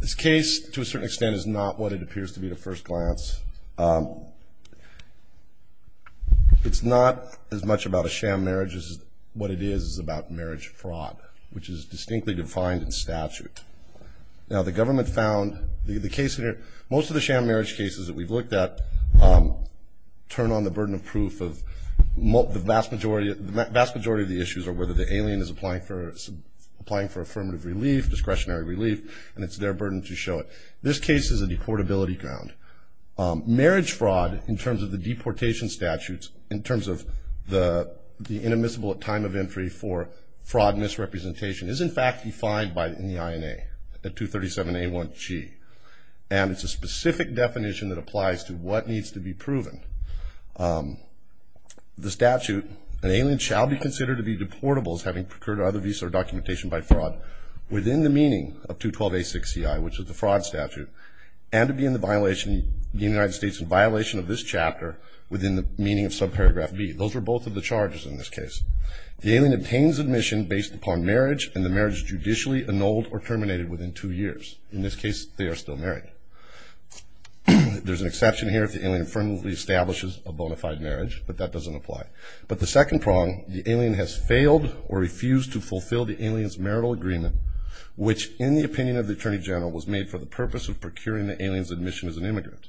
This case, to a certain extent, is not what it appears to be at first glance. It's not as much about a sham marriage as what it is about marriage fraud, which is distinctly defined in statute. Now, the government found most of the sham marriage cases that we've looked at turn on the burden of proof. The vast majority of the issues are whether the alien is applying for affirmative relief, discretionary relief, and it's their burden to show it. This case is a deportability ground. Marriage fraud, in terms of the deportation statutes, in terms of the inadmissible time of entry for fraud misrepresentation, is, in fact, defined in the INA at 237A1G. And it's a specific definition that applies to what needs to be proven. The statute, an alien shall be considered to be deportable as having procured either visa or documentation by fraud, within the meaning of 212A6CI, which is the fraud statute, and to be in the United States in violation of this chapter within the meaning of subparagraph B. Those are both of the charges in this case. The alien obtains admission based upon marriage, and the marriage is judicially annulled or terminated within two years. In this case, they are still married. There's an exception here if the alien firmly establishes a bona fide marriage, but that doesn't apply. But the second prong, the alien has failed or refused to fulfill the alien's marital agreement, which, in the opinion of the Attorney General, was made for the purpose of procuring the alien's admission as an immigrant.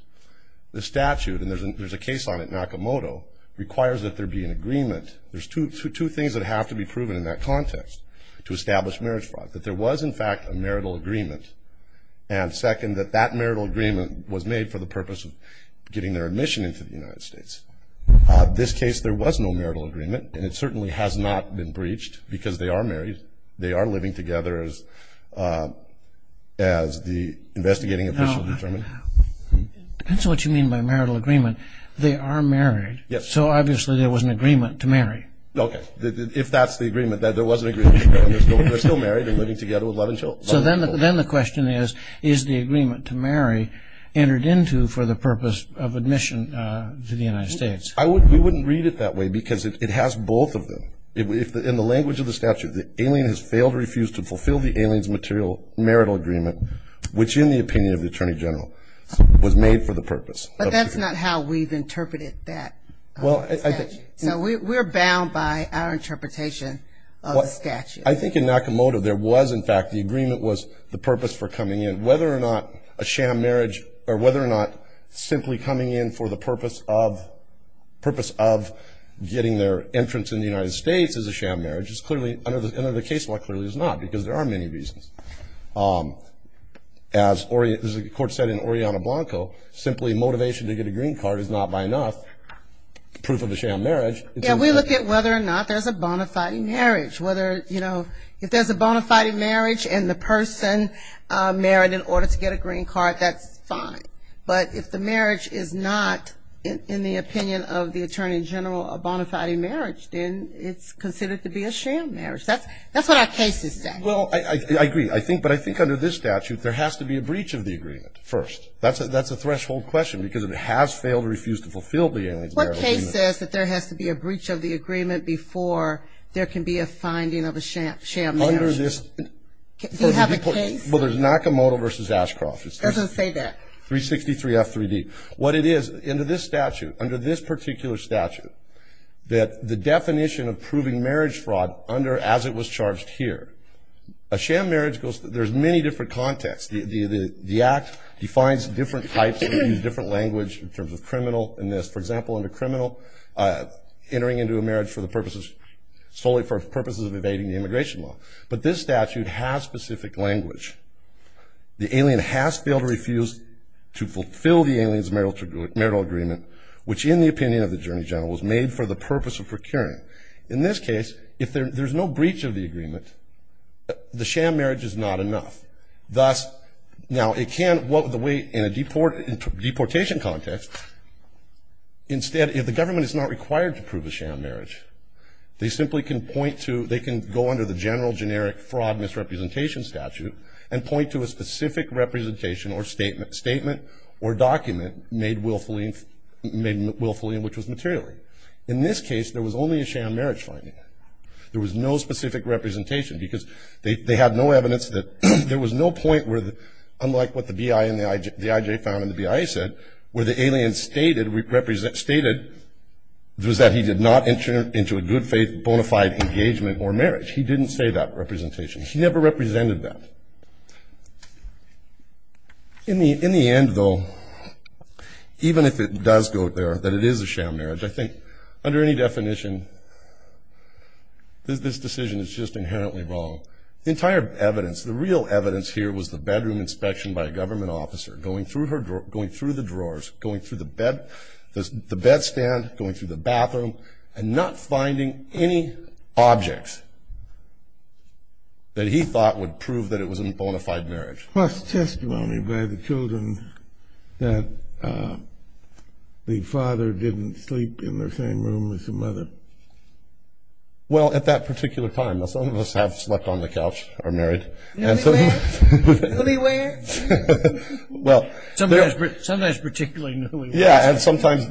The statute, and there's a case on it, Nakamoto, requires that there be an agreement. There's two things that have to be proven in that context to establish marriage fraud, that there was, in fact, a marital agreement, and, second, that that marital agreement was made for the purpose of getting their admission into the United States. This case, there was no marital agreement, and it certainly has not been breached because they are married. They are living together as the investigating official determined. That's what you mean by marital agreement. They are married. Yes. So, obviously, there was an agreement to marry. Okay. If that's the agreement, then there was an agreement to marry, and they're still married and living together with love and children. So then the question is, is the agreement to marry entered into for the purpose of admission to the United States? We wouldn't read it that way because it has both of them. In the language of the statute, the alien has failed or refused to fulfill the alien's marital agreement, which, in the opinion of the Attorney General, was made for the purpose of procuring. But that's not how we've interpreted that statute. So we're bound by our interpretation of the statute. I think in Nakamoto, there was, in fact, the agreement was the purpose for coming in. Whether or not a sham marriage or whether or not simply coming in for the purpose of getting their entrance in the United States as a sham marriage is clearly, under the case law, clearly is not because there are many reasons. As the court said in Oriana Blanco, simply motivation to get a green card is not, by enough, proof of a sham marriage. Yeah, we look at whether or not there's a bona fide marriage. Whether, you know, if there's a bona fide marriage and the person married in order to get a green card, that's fine. But if the marriage is not, in the opinion of the Attorney General, a bona fide marriage, then it's considered to be a sham marriage. That's what our cases say. Well, I agree. But I think under this statute, there has to be a breach of the agreement first. That's a threshold question because it has failed or refused to fulfill the alien's marital agreement. The case says that there has to be a breach of the agreement before there can be a finding of a sham marriage. Do you have a case? Well, there's Nakamoto v. Ashcroft. It doesn't say that. 363F3D. What it is, under this statute, under this particular statute, that the definition of proving marriage fraud under as it was charged here. A sham marriage, there's many different contexts. The Act defines different types, different language in terms of criminal and this. For example, under criminal, entering into a marriage solely for purposes of evading the immigration law. But this statute has specific language. The alien has failed or refused to fulfill the alien's marital agreement, which in the opinion of the Attorney General was made for the purpose of procuring. In this case, if there's no breach of the agreement, the sham marriage is not enough. Thus, now it can, in a deportation context, instead, if the government is not required to prove a sham marriage, they can go under the general generic fraud misrepresentation statute and point to a specific representation or statement or document made willfully and which was material. In this case, there was only a sham marriage finding. There was no specific representation because they had no evidence that there was no point where, unlike what the BI and the IJ found and the BI said, where the alien stated, stated it was that he did not enter into a good faith bona fide engagement or marriage. He didn't say that representation. He never represented that. In the end, though, even if it does go there, that it is a sham marriage, I think under any definition this decision is just inherently wrong. The entire evidence, the real evidence here was the bedroom inspection by a government officer, going through the drawers, going through the bed, the bed stand, going through the bathroom, and not finding any objects that he thought would prove that it was a bona fide marriage. Plus testimony by the children that the father didn't sleep in the same room as the mother. Well, at that particular time, some of us have slept on the couch, are married. Newlyweds. Newlyweds. Sometimes particularly newlyweds. Yeah, and sometimes,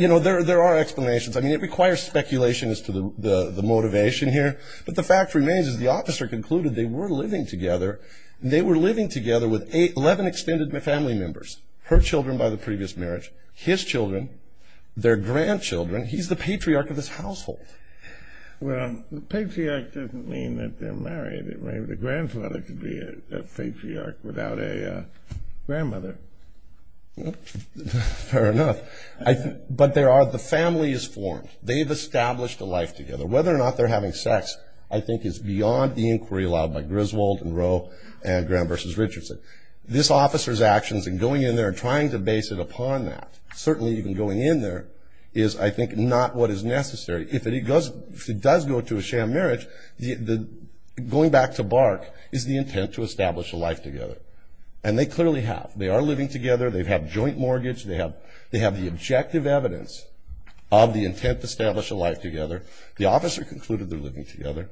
you know, there are explanations. I mean, it requires speculation as to the motivation here, but the fact remains is the officer concluded they were living together, and they were living together with 11 extended family members, her children by the previous marriage, his children, their grandchildren. He's the patriarch of this household. Well, the patriarch doesn't mean that they're married. Maybe the grandfather could be a patriarch without a grandmother. Fair enough. But the family is formed. They've established a life together. Whether or not they're having sex, I think, is beyond the inquiry allowed by Griswold and Rowe and Graham v. Richardson. This officer's actions in going in there and trying to base it upon that, certainly even going in there, is, I think, not what is necessary. If it does go to a sham marriage, going back to Bark, is the intent to establish a life together. And they clearly have. They are living together. They have joint mortgage. They have the objective evidence of the intent to establish a life together. The officer concluded they're living together.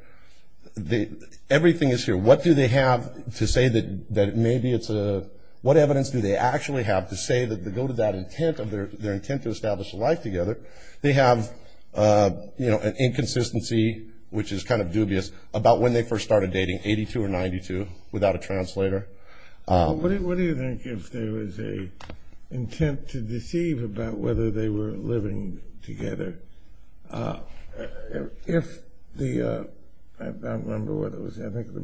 Everything is here. What do they have to say that maybe it's a – what evidence do they actually have to say that they go to that intent of their – their intent to establish a life together? They have, you know, an inconsistency, which is kind of dubious, about when they first started dating, 82 or 92, without a translator. What do you think if there was an intent to deceive about whether they were living together? If the – I don't remember what it was. I think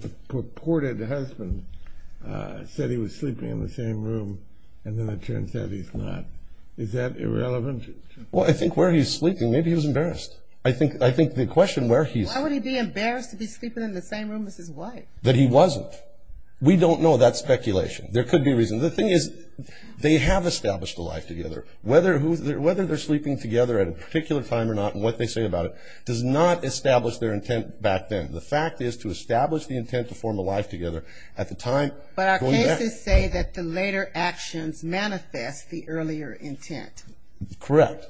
the purported husband said he was sleeping in the same room, and then it turns out he's not. Is that irrelevant? Well, I think where he's sleeping, maybe he was embarrassed. I think the question where he's – Why would he be embarrassed to be sleeping in the same room as his wife? That he wasn't. We don't know. That's speculation. There could be reasons. The thing is, they have established a life together. Whether they're sleeping together at a particular time or not, and what they say about it, does not establish their intent back then. The fact is, to establish the intent to form a life together at the time – But our cases say that the later actions manifest the earlier intent. Correct.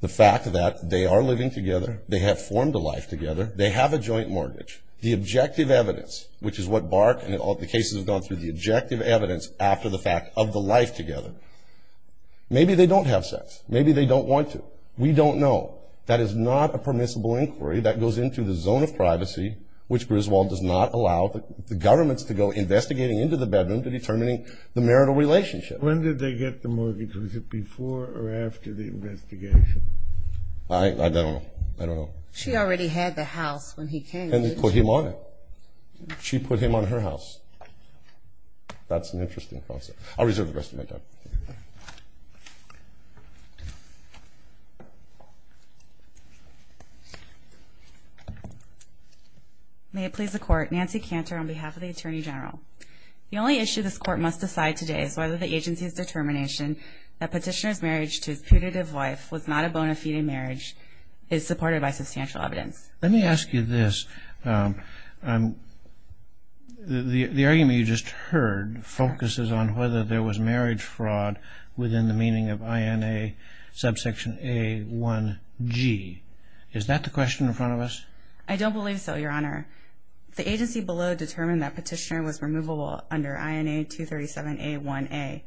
The fact that they are living together, they have formed a life together, they have a joint mortgage, the objective evidence, which is what Barck and all the cases have gone through, the objective evidence after the fact of the life together. Maybe they don't have sex. Maybe they don't want to. We don't know. That is not a permissible inquiry. That goes into the zone of privacy, which Griswold does not allow the governments to go investigating into the bedroom to determining the marital relationship. When did they get the mortgage? Was it before or after the investigation? I don't know. I don't know. She already had the house when he came. And they put him on it. She put him on her house. That's an interesting concept. I'll reserve the rest of my time. May it please the Court. Nancy Cantor on behalf of the Attorney General. The only issue this Court must decide today is whether the agency's determination that petitioner's marriage to his putative wife was not a bona fide marriage is supported by substantial evidence. Let me ask you this. The argument you just heard focuses on whether there was marriage fraud within the meaning of INA subsection A1G. Is that the question in front of us? I don't believe so, Your Honor. The agency below determined that petitioner was removable under INA 237A1A,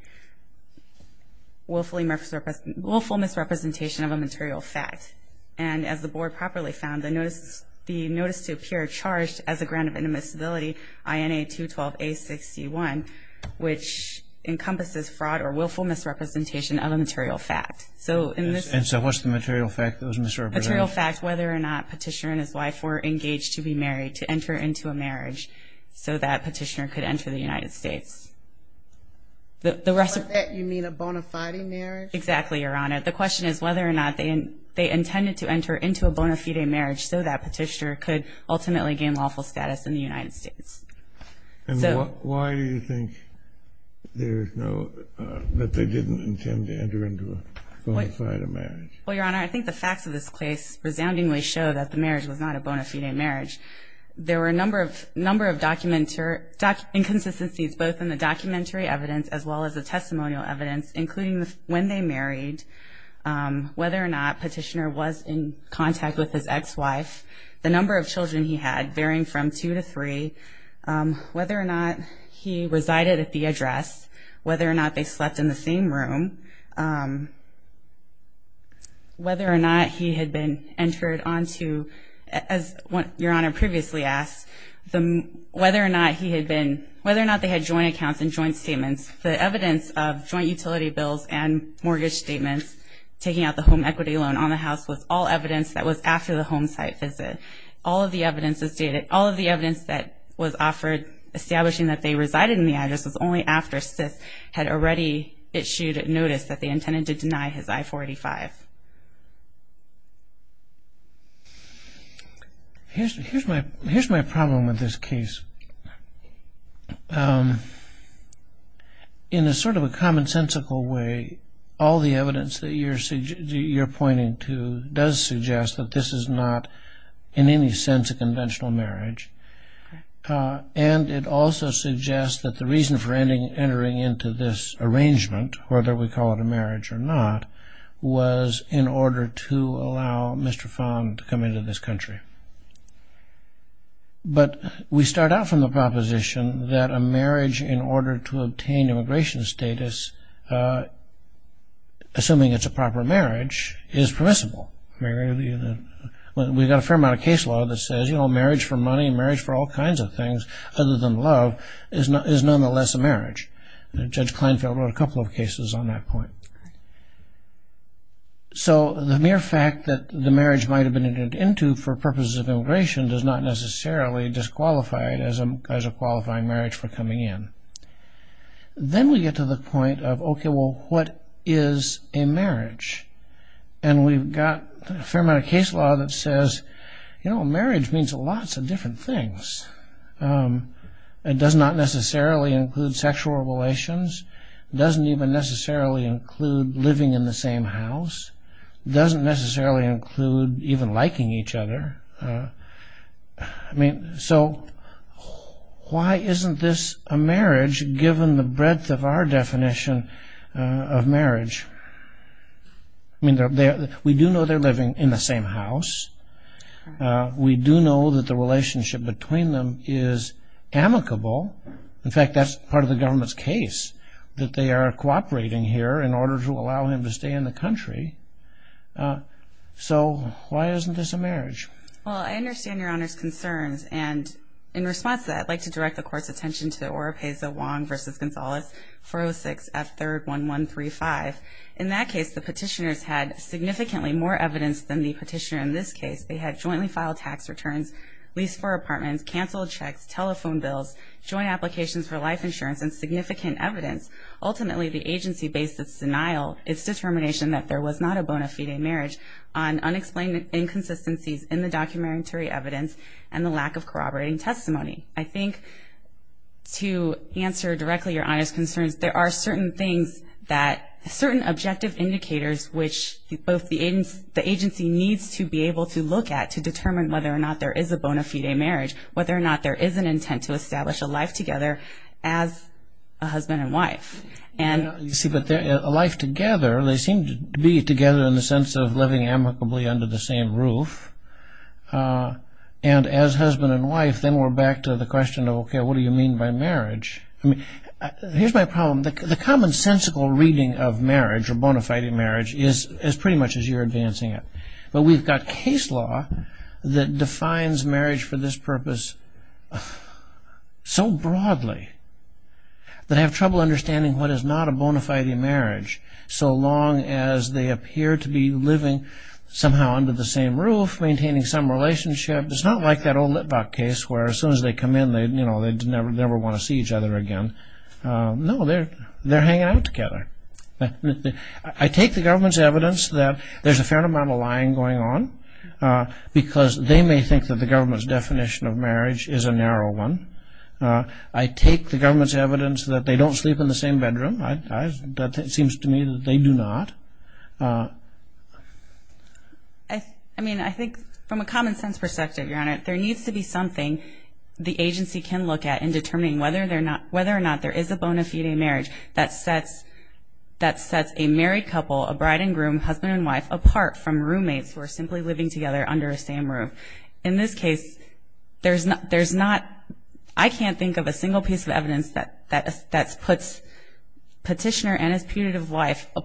willful misrepresentation of a material fact. And as the Board properly found, the notice to appear charged as a grant of inadmissibility, INA 212A61, which encompasses fraud or willful misrepresentation of a material fact. And so what's the material fact that was misrepresented? Material fact, whether or not petitioner and his wife were engaged to be married, to enter into a marriage so that petitioner could enter the United States. By that, you mean a bona fide marriage? Exactly, Your Honor. The question is whether or not they intended to enter into a bona fide marriage so that petitioner could ultimately gain lawful status in the United States. And why do you think there's no, that they didn't intend to enter into a bona fide marriage? Well, Your Honor, I think the facts of this case resoundingly show that the marriage was not a bona fide marriage. There were a number of inconsistencies both in the documentary evidence as well as the testimonial evidence, including when they married, whether or not petitioner was in contact with his ex-wife, the number of children he had varying from two to three, whether or not he resided at the address, whether or not they slept in the same room, whether or not he had been entered onto, as Your Honor previously asked, whether or not he had been, whether or not they had joint accounts and joint statements. The evidence of joint utility bills and mortgage statements, taking out the home equity loan on the house, was all evidence that was after the home site visit. All of the evidence that was offered establishing that they resided in the address was only after Sith had already issued notice that they intended to deny his I-485. Here's my problem with this case. In a sort of a commonsensical way, all the evidence that you're pointing to does suggest that this is not in any sense a conventional marriage. And it also suggests that the reason for entering into this arrangement, whether we call it a marriage or not, was in order to allow Mr. Fong to come into this country. But we start out from the proposition that a marriage in order to obtain immigration status, assuming it's a proper marriage, is permissible. We've got a fair amount of case law that says, you know, marriage for money, marriage for all kinds of things other than love, is nonetheless a marriage. Judge Kleinfeld wrote a couple of cases on that point. So the mere fact that the marriage might have been entered into for purposes of immigration does not necessarily disqualify it as a qualifying marriage for coming in. Then we get to the point of, okay, well, what is a marriage? And we've got a fair amount of case law that says, you know, marriage means lots of different things. It does not necessarily include sexual relations. It doesn't even necessarily include living in the same house. It doesn't necessarily include even liking each other. So why isn't this a marriage given the breadth of our definition of marriage? I mean, we do know they're living in the same house. We do know that the relationship between them is amicable. In fact, that's part of the government's case, that they are cooperating here in order to allow him to stay in the country. So why isn't this a marriage? Well, I understand Your Honor's concerns. And in response to that, I'd like to direct the Court's attention to the Oropesa-Wong v. Gonzalez, 406 F. 3rd, 1135. In that case, the petitioners had significantly more evidence than the petitioner in this case. They had jointly filed tax returns, leased four apartments, canceled checks, telephone bills, joint applications for life insurance, and significant evidence. Ultimately, the agency based its denial, its determination that there was not a bona fide marriage on unexplained inconsistencies in the documentary evidence and the lack of corroborating testimony. I think to answer directly Your Honor's concerns, there are certain things that, certain objective indicators, which both the agency needs to be able to look at to determine whether or not there is a bona fide marriage, whether or not there is an intent to establish a life together as a husband and wife. You see, but a life together, they seem to be together in the sense of living amicably under the same roof. And as husband and wife, then we're back to the question of, okay, what do you mean by marriage? Here's my problem. The commonsensical reading of marriage or bona fide marriage is pretty much as you're advancing it. But we've got case law that defines marriage for this purpose so broadly that I have trouble understanding what is not a bona fide marriage so long as they appear to be living somehow under the same roof, maintaining some relationship. It's not like that old Litvak case where as soon as they come in, they never want to see each other again. No, they're hanging out together. I take the government's evidence that there's a fair amount of lying going on because they may think that the government's definition of marriage is a narrow one. I take the government's evidence that they don't sleep in the same bedroom. It seems to me that they do not. There needs to be something the agency can look at in determining whether or not there is a bona fide marriage that sets a married couple, a bride and groom, husband and wife, apart from roommates who are simply living together under the same roof. In this case, there's not – I can't think of a single piece of evidence that puts petitioner and his putative wife –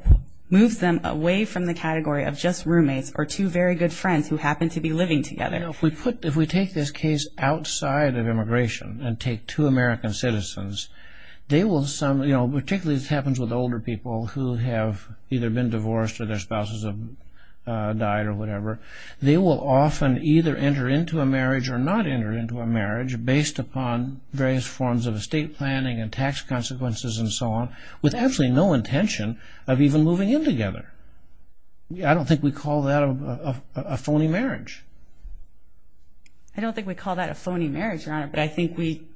moves them away from the category of just roommates or two very good friends who happen to be living together. If we take this case outside of immigration and take two American citizens, particularly this happens with older people who have either been divorced or their spouses have died or whatever, they will often either enter into a marriage or not enter into a marriage based upon various forms of estate planning and tax consequences and so on with absolutely no intention of even moving in together. I don't think we call that a phony marriage. I don't think we call that a phony marriage, Your Honor, but I think we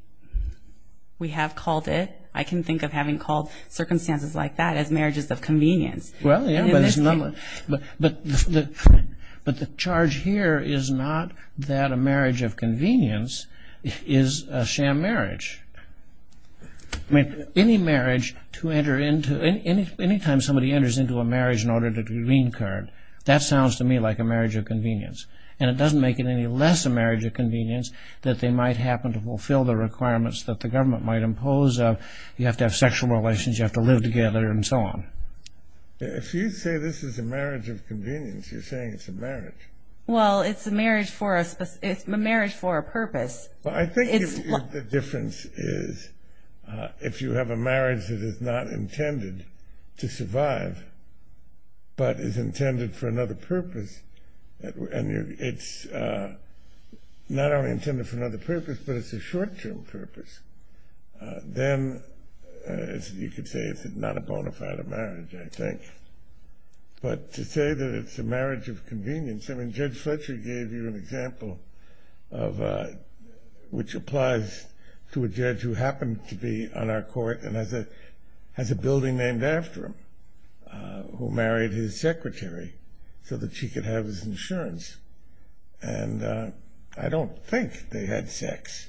have called it. I can think of having called circumstances like that as marriages of convenience. Well, yeah, but the charge here is not that a marriage of convenience is a sham marriage. I mean, any marriage to enter into – any time somebody enters into a marriage in order to reincur, that sounds to me like a marriage of convenience. And it doesn't make it any less a marriage of convenience that they might happen to fulfill the requirements that the government might impose of you have to have sexual relations, you have to live together and so on. If you say this is a marriage of convenience, you're saying it's a marriage. Well, it's a marriage for a purpose. Well, I think the difference is if you have a marriage that is not intended to survive but is intended for another purpose and it's not only intended for another purpose but it's a short-term purpose, then you could say it's not a bona fide marriage, I think. But to say that it's a marriage of convenience, I mean, Judge Fletcher gave you an example which applies to a judge who happened to be on our court and has a building named after him who married his secretary so that she could have his insurance. And I don't think they had sex,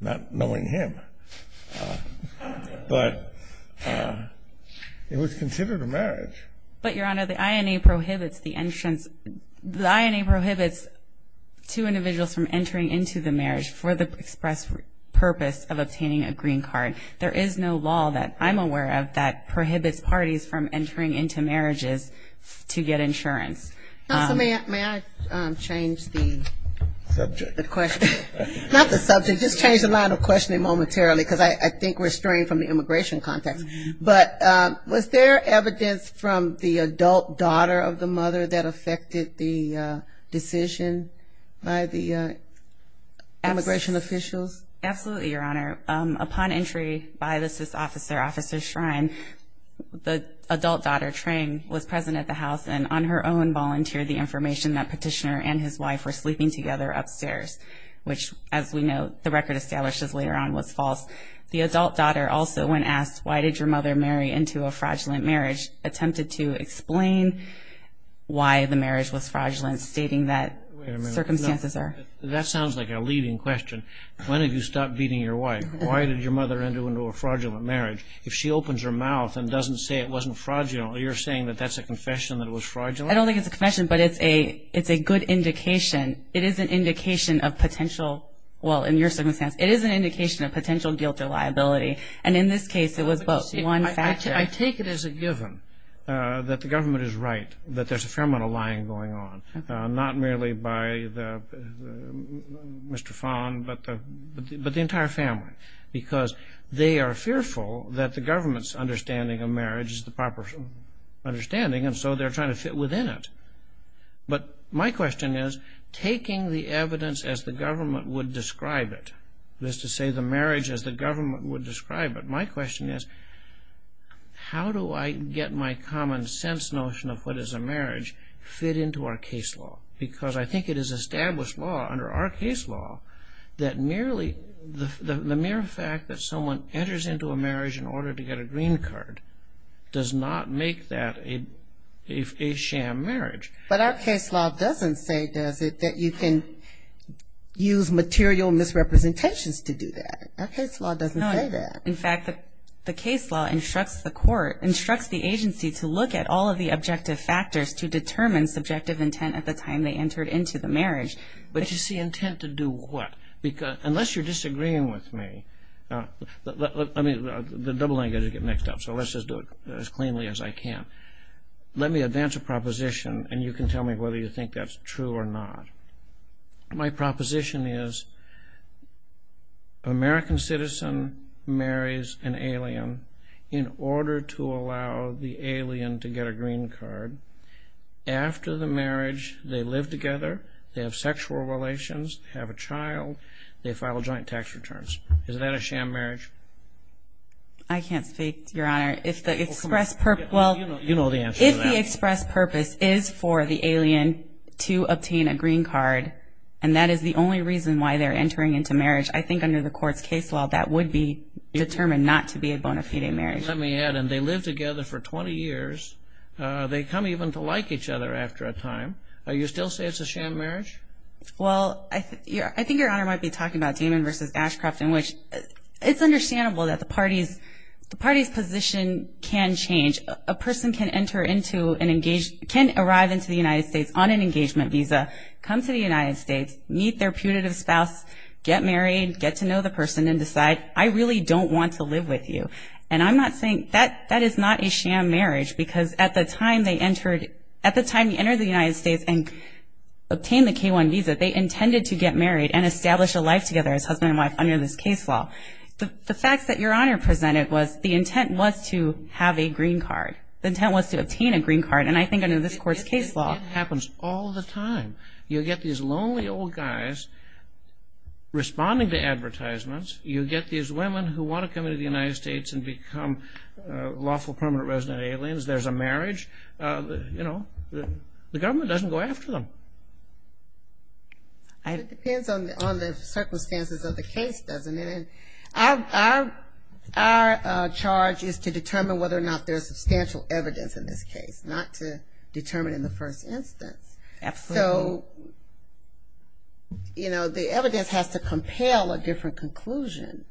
not knowing him, but it was considered a marriage. But, Your Honor, the INA prohibits two individuals from entering into the marriage for the express purpose of obtaining a green card. There is no law that I'm aware of that prohibits parties from entering into marriages to get insurance. May I change the question? Not the subject, just change the line of questioning momentarily because I think we're straying from the immigration context. But was there evidence from the adult daughter of the mother that affected the decision by the immigration officials? Absolutely, Your Honor. Upon entry by the SIS officer, Officer Shrine, the adult daughter, Trang, was present at the house and on her own volunteered the information that Petitioner and his wife were sleeping together upstairs, which, as we know, the record establishes later on was false. The adult daughter also, when asked why did your mother marry into a fraudulent marriage, attempted to explain why the marriage was fraudulent, stating that circumstances are. Wait a minute. That sounds like a leading question. When did you stop beating your wife? Why did your mother enter into a fraudulent marriage? If she opens her mouth and doesn't say it wasn't fraudulent, you're saying that that's a confession that was fraudulent? I don't think it's a confession, but it's a good indication. It is an indication of potential, well, in your circumstance, it is an indication of potential guilt or liability, and in this case it was both. I take it as a given that the government is right, that there's a fair amount of lying going on, not merely by Mr. Fon, but the entire family, because they are fearful that the government's understanding of marriage is the proper understanding, and so they're trying to fit within it. But my question is, taking the evidence as the government would describe it, that is to say, the marriage as the government would describe it, my question is, how do I get my common sense notion of what is a marriage fit into our case law? Because I think it is established law, under our case law, that the mere fact that someone enters into a marriage in order to get a green card does not make that a sham marriage. But our case law doesn't say, does it, that you can use material misrepresentations to do that. Our case law doesn't say that. In fact, the case law instructs the court, instructs the agency to look at all of the objective factors to determine subjective intent at the time they entered into the marriage. But you see, intent to do what? Unless you're disagreeing with me, the double language will get mixed up, so let's just do it as cleanly as I can. Let me advance a proposition, and you can tell me whether you think that's true or not. My proposition is, an American citizen marries an alien in order to allow the alien to get a green card. After the marriage, they live together, they have sexual relations, have a child, they file joint tax returns. Is that a sham marriage? I can't speak, Your Honor. Well, you know the answer to that. If the express purpose is for the alien to obtain a green card, and that is the only reason why they're entering into marriage, I think under the court's case law that would be determined not to be a bona fide marriage. Let me add, and they live together for 20 years. They come even to like each other after a time. Do you still say it's a sham marriage? Well, I think Your Honor might be talking about Damon v. Ashcroft, in which it's understandable that the party's position can change. A person can arrive into the United States on an engagement visa, come to the United States, meet their putative spouse, get married, get to know the person, and decide, I really don't want to live with you. And I'm not saying that is not a sham marriage, because at the time they entered the United States and obtained the K-1 visa, they intended to get married and establish a life together as husband and wife under this case law. The fact that Your Honor presented was the intent was to have a green card. The intent was to obtain a green card, and I think under this court's case law. It happens all the time. You get these lonely old guys responding to advertisements. You get these women who want to come into the United States and become lawful permanent resident aliens. There's a marriage. You know, the government doesn't go after them. It depends on the circumstances of the case, doesn't it? Our charge is to determine whether or not there's substantial evidence in this case, not to determine in the first instance. Absolutely. So, you know, the evidence has to compel a different conclusion.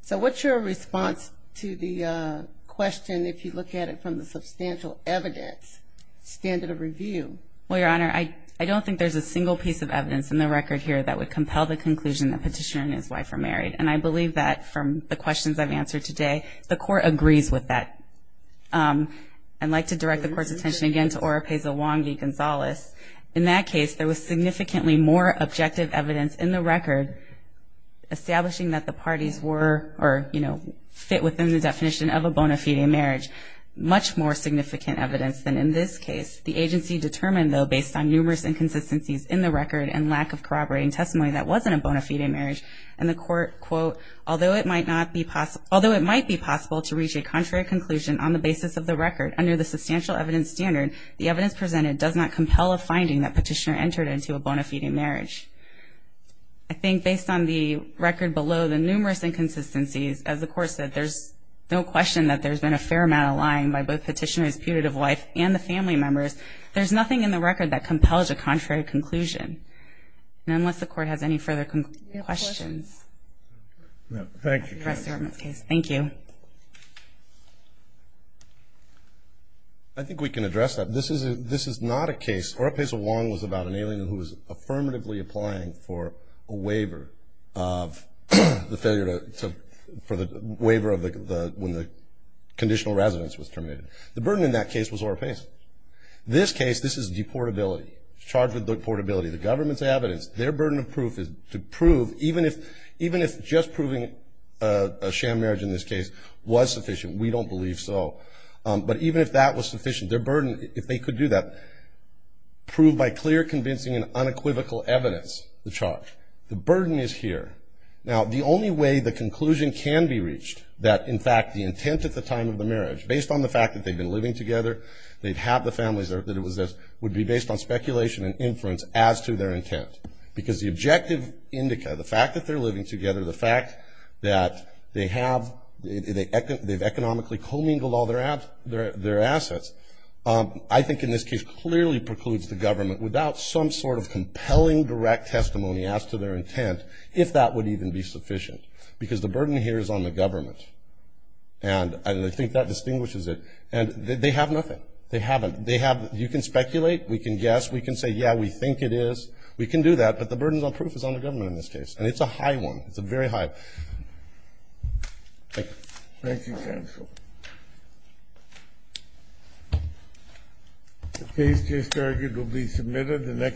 So what's your response to the question if you look at it from the substantial evidence standard of review? Well, Your Honor, I don't think there's a single piece of evidence in the record here that would compel the conclusion that Petitioner and his wife are married. And I believe that from the questions I've answered today, the court agrees with that. I'd like to direct the court's attention again to Oropeza Wongi-Gonzalez. In that case, there was significantly more objective evidence in the record establishing that the parties were or, you know, fit within the definition of a bona fide marriage. Much more significant evidence than in this case. The agency determined, though, based on numerous inconsistencies in the record and lack of corroborating testimony, that wasn't a bona fide marriage. And the court, quote, although it might be possible to reach a contrary conclusion on the basis of the record, under the substantial evidence standard, the evidence presented does not compel a finding that Petitioner entered into a bona fide marriage. I think based on the record below, the numerous inconsistencies, as the court said, there's no question that there's been a fair amount of lying by both Petitioner's putative wife and the family members. There's nothing in the record that compels a contrary conclusion. And unless the court has any further questions. Thank you. Thank you. I think we can address that. This is not a case. Oropesa Wong was about an alien who was affirmatively applying for a waiver of the failure to, for the waiver of the, when the conditional residence was terminated. The burden in that case was Oropesa. This case, this is deportability. Charged with deportability. The government's evidence. Their burden of proof is to prove, even if just proving a sham marriage in this case was sufficient. We don't believe so. But even if that was sufficient, their burden, if they could do that, prove by clear, convincing and unequivocal evidence the charge. The burden is here. Now, the only way the conclusion can be reached that, in fact, the intent at the time of the marriage, based on the fact that they'd been living together, they'd have the families that it was this, would be based on speculation and inference as to their intent. Because the objective indica, the fact that they're living together, the fact that they have, they've economically commingled all their assets, I think in this case clearly precludes the government without some sort of compelling direct testimony as to their intent, if that would even be sufficient. Because the burden here is on the government. And I think that distinguishes it. And they have nothing. They haven't. They have, you can speculate. We can guess. We can say, yeah, we think it is. We can do that. But the burden of proof is on the government in this case. And it's a high one. It's a very high. Thank you. Thank you, counsel. The case case target will be submitted the next day.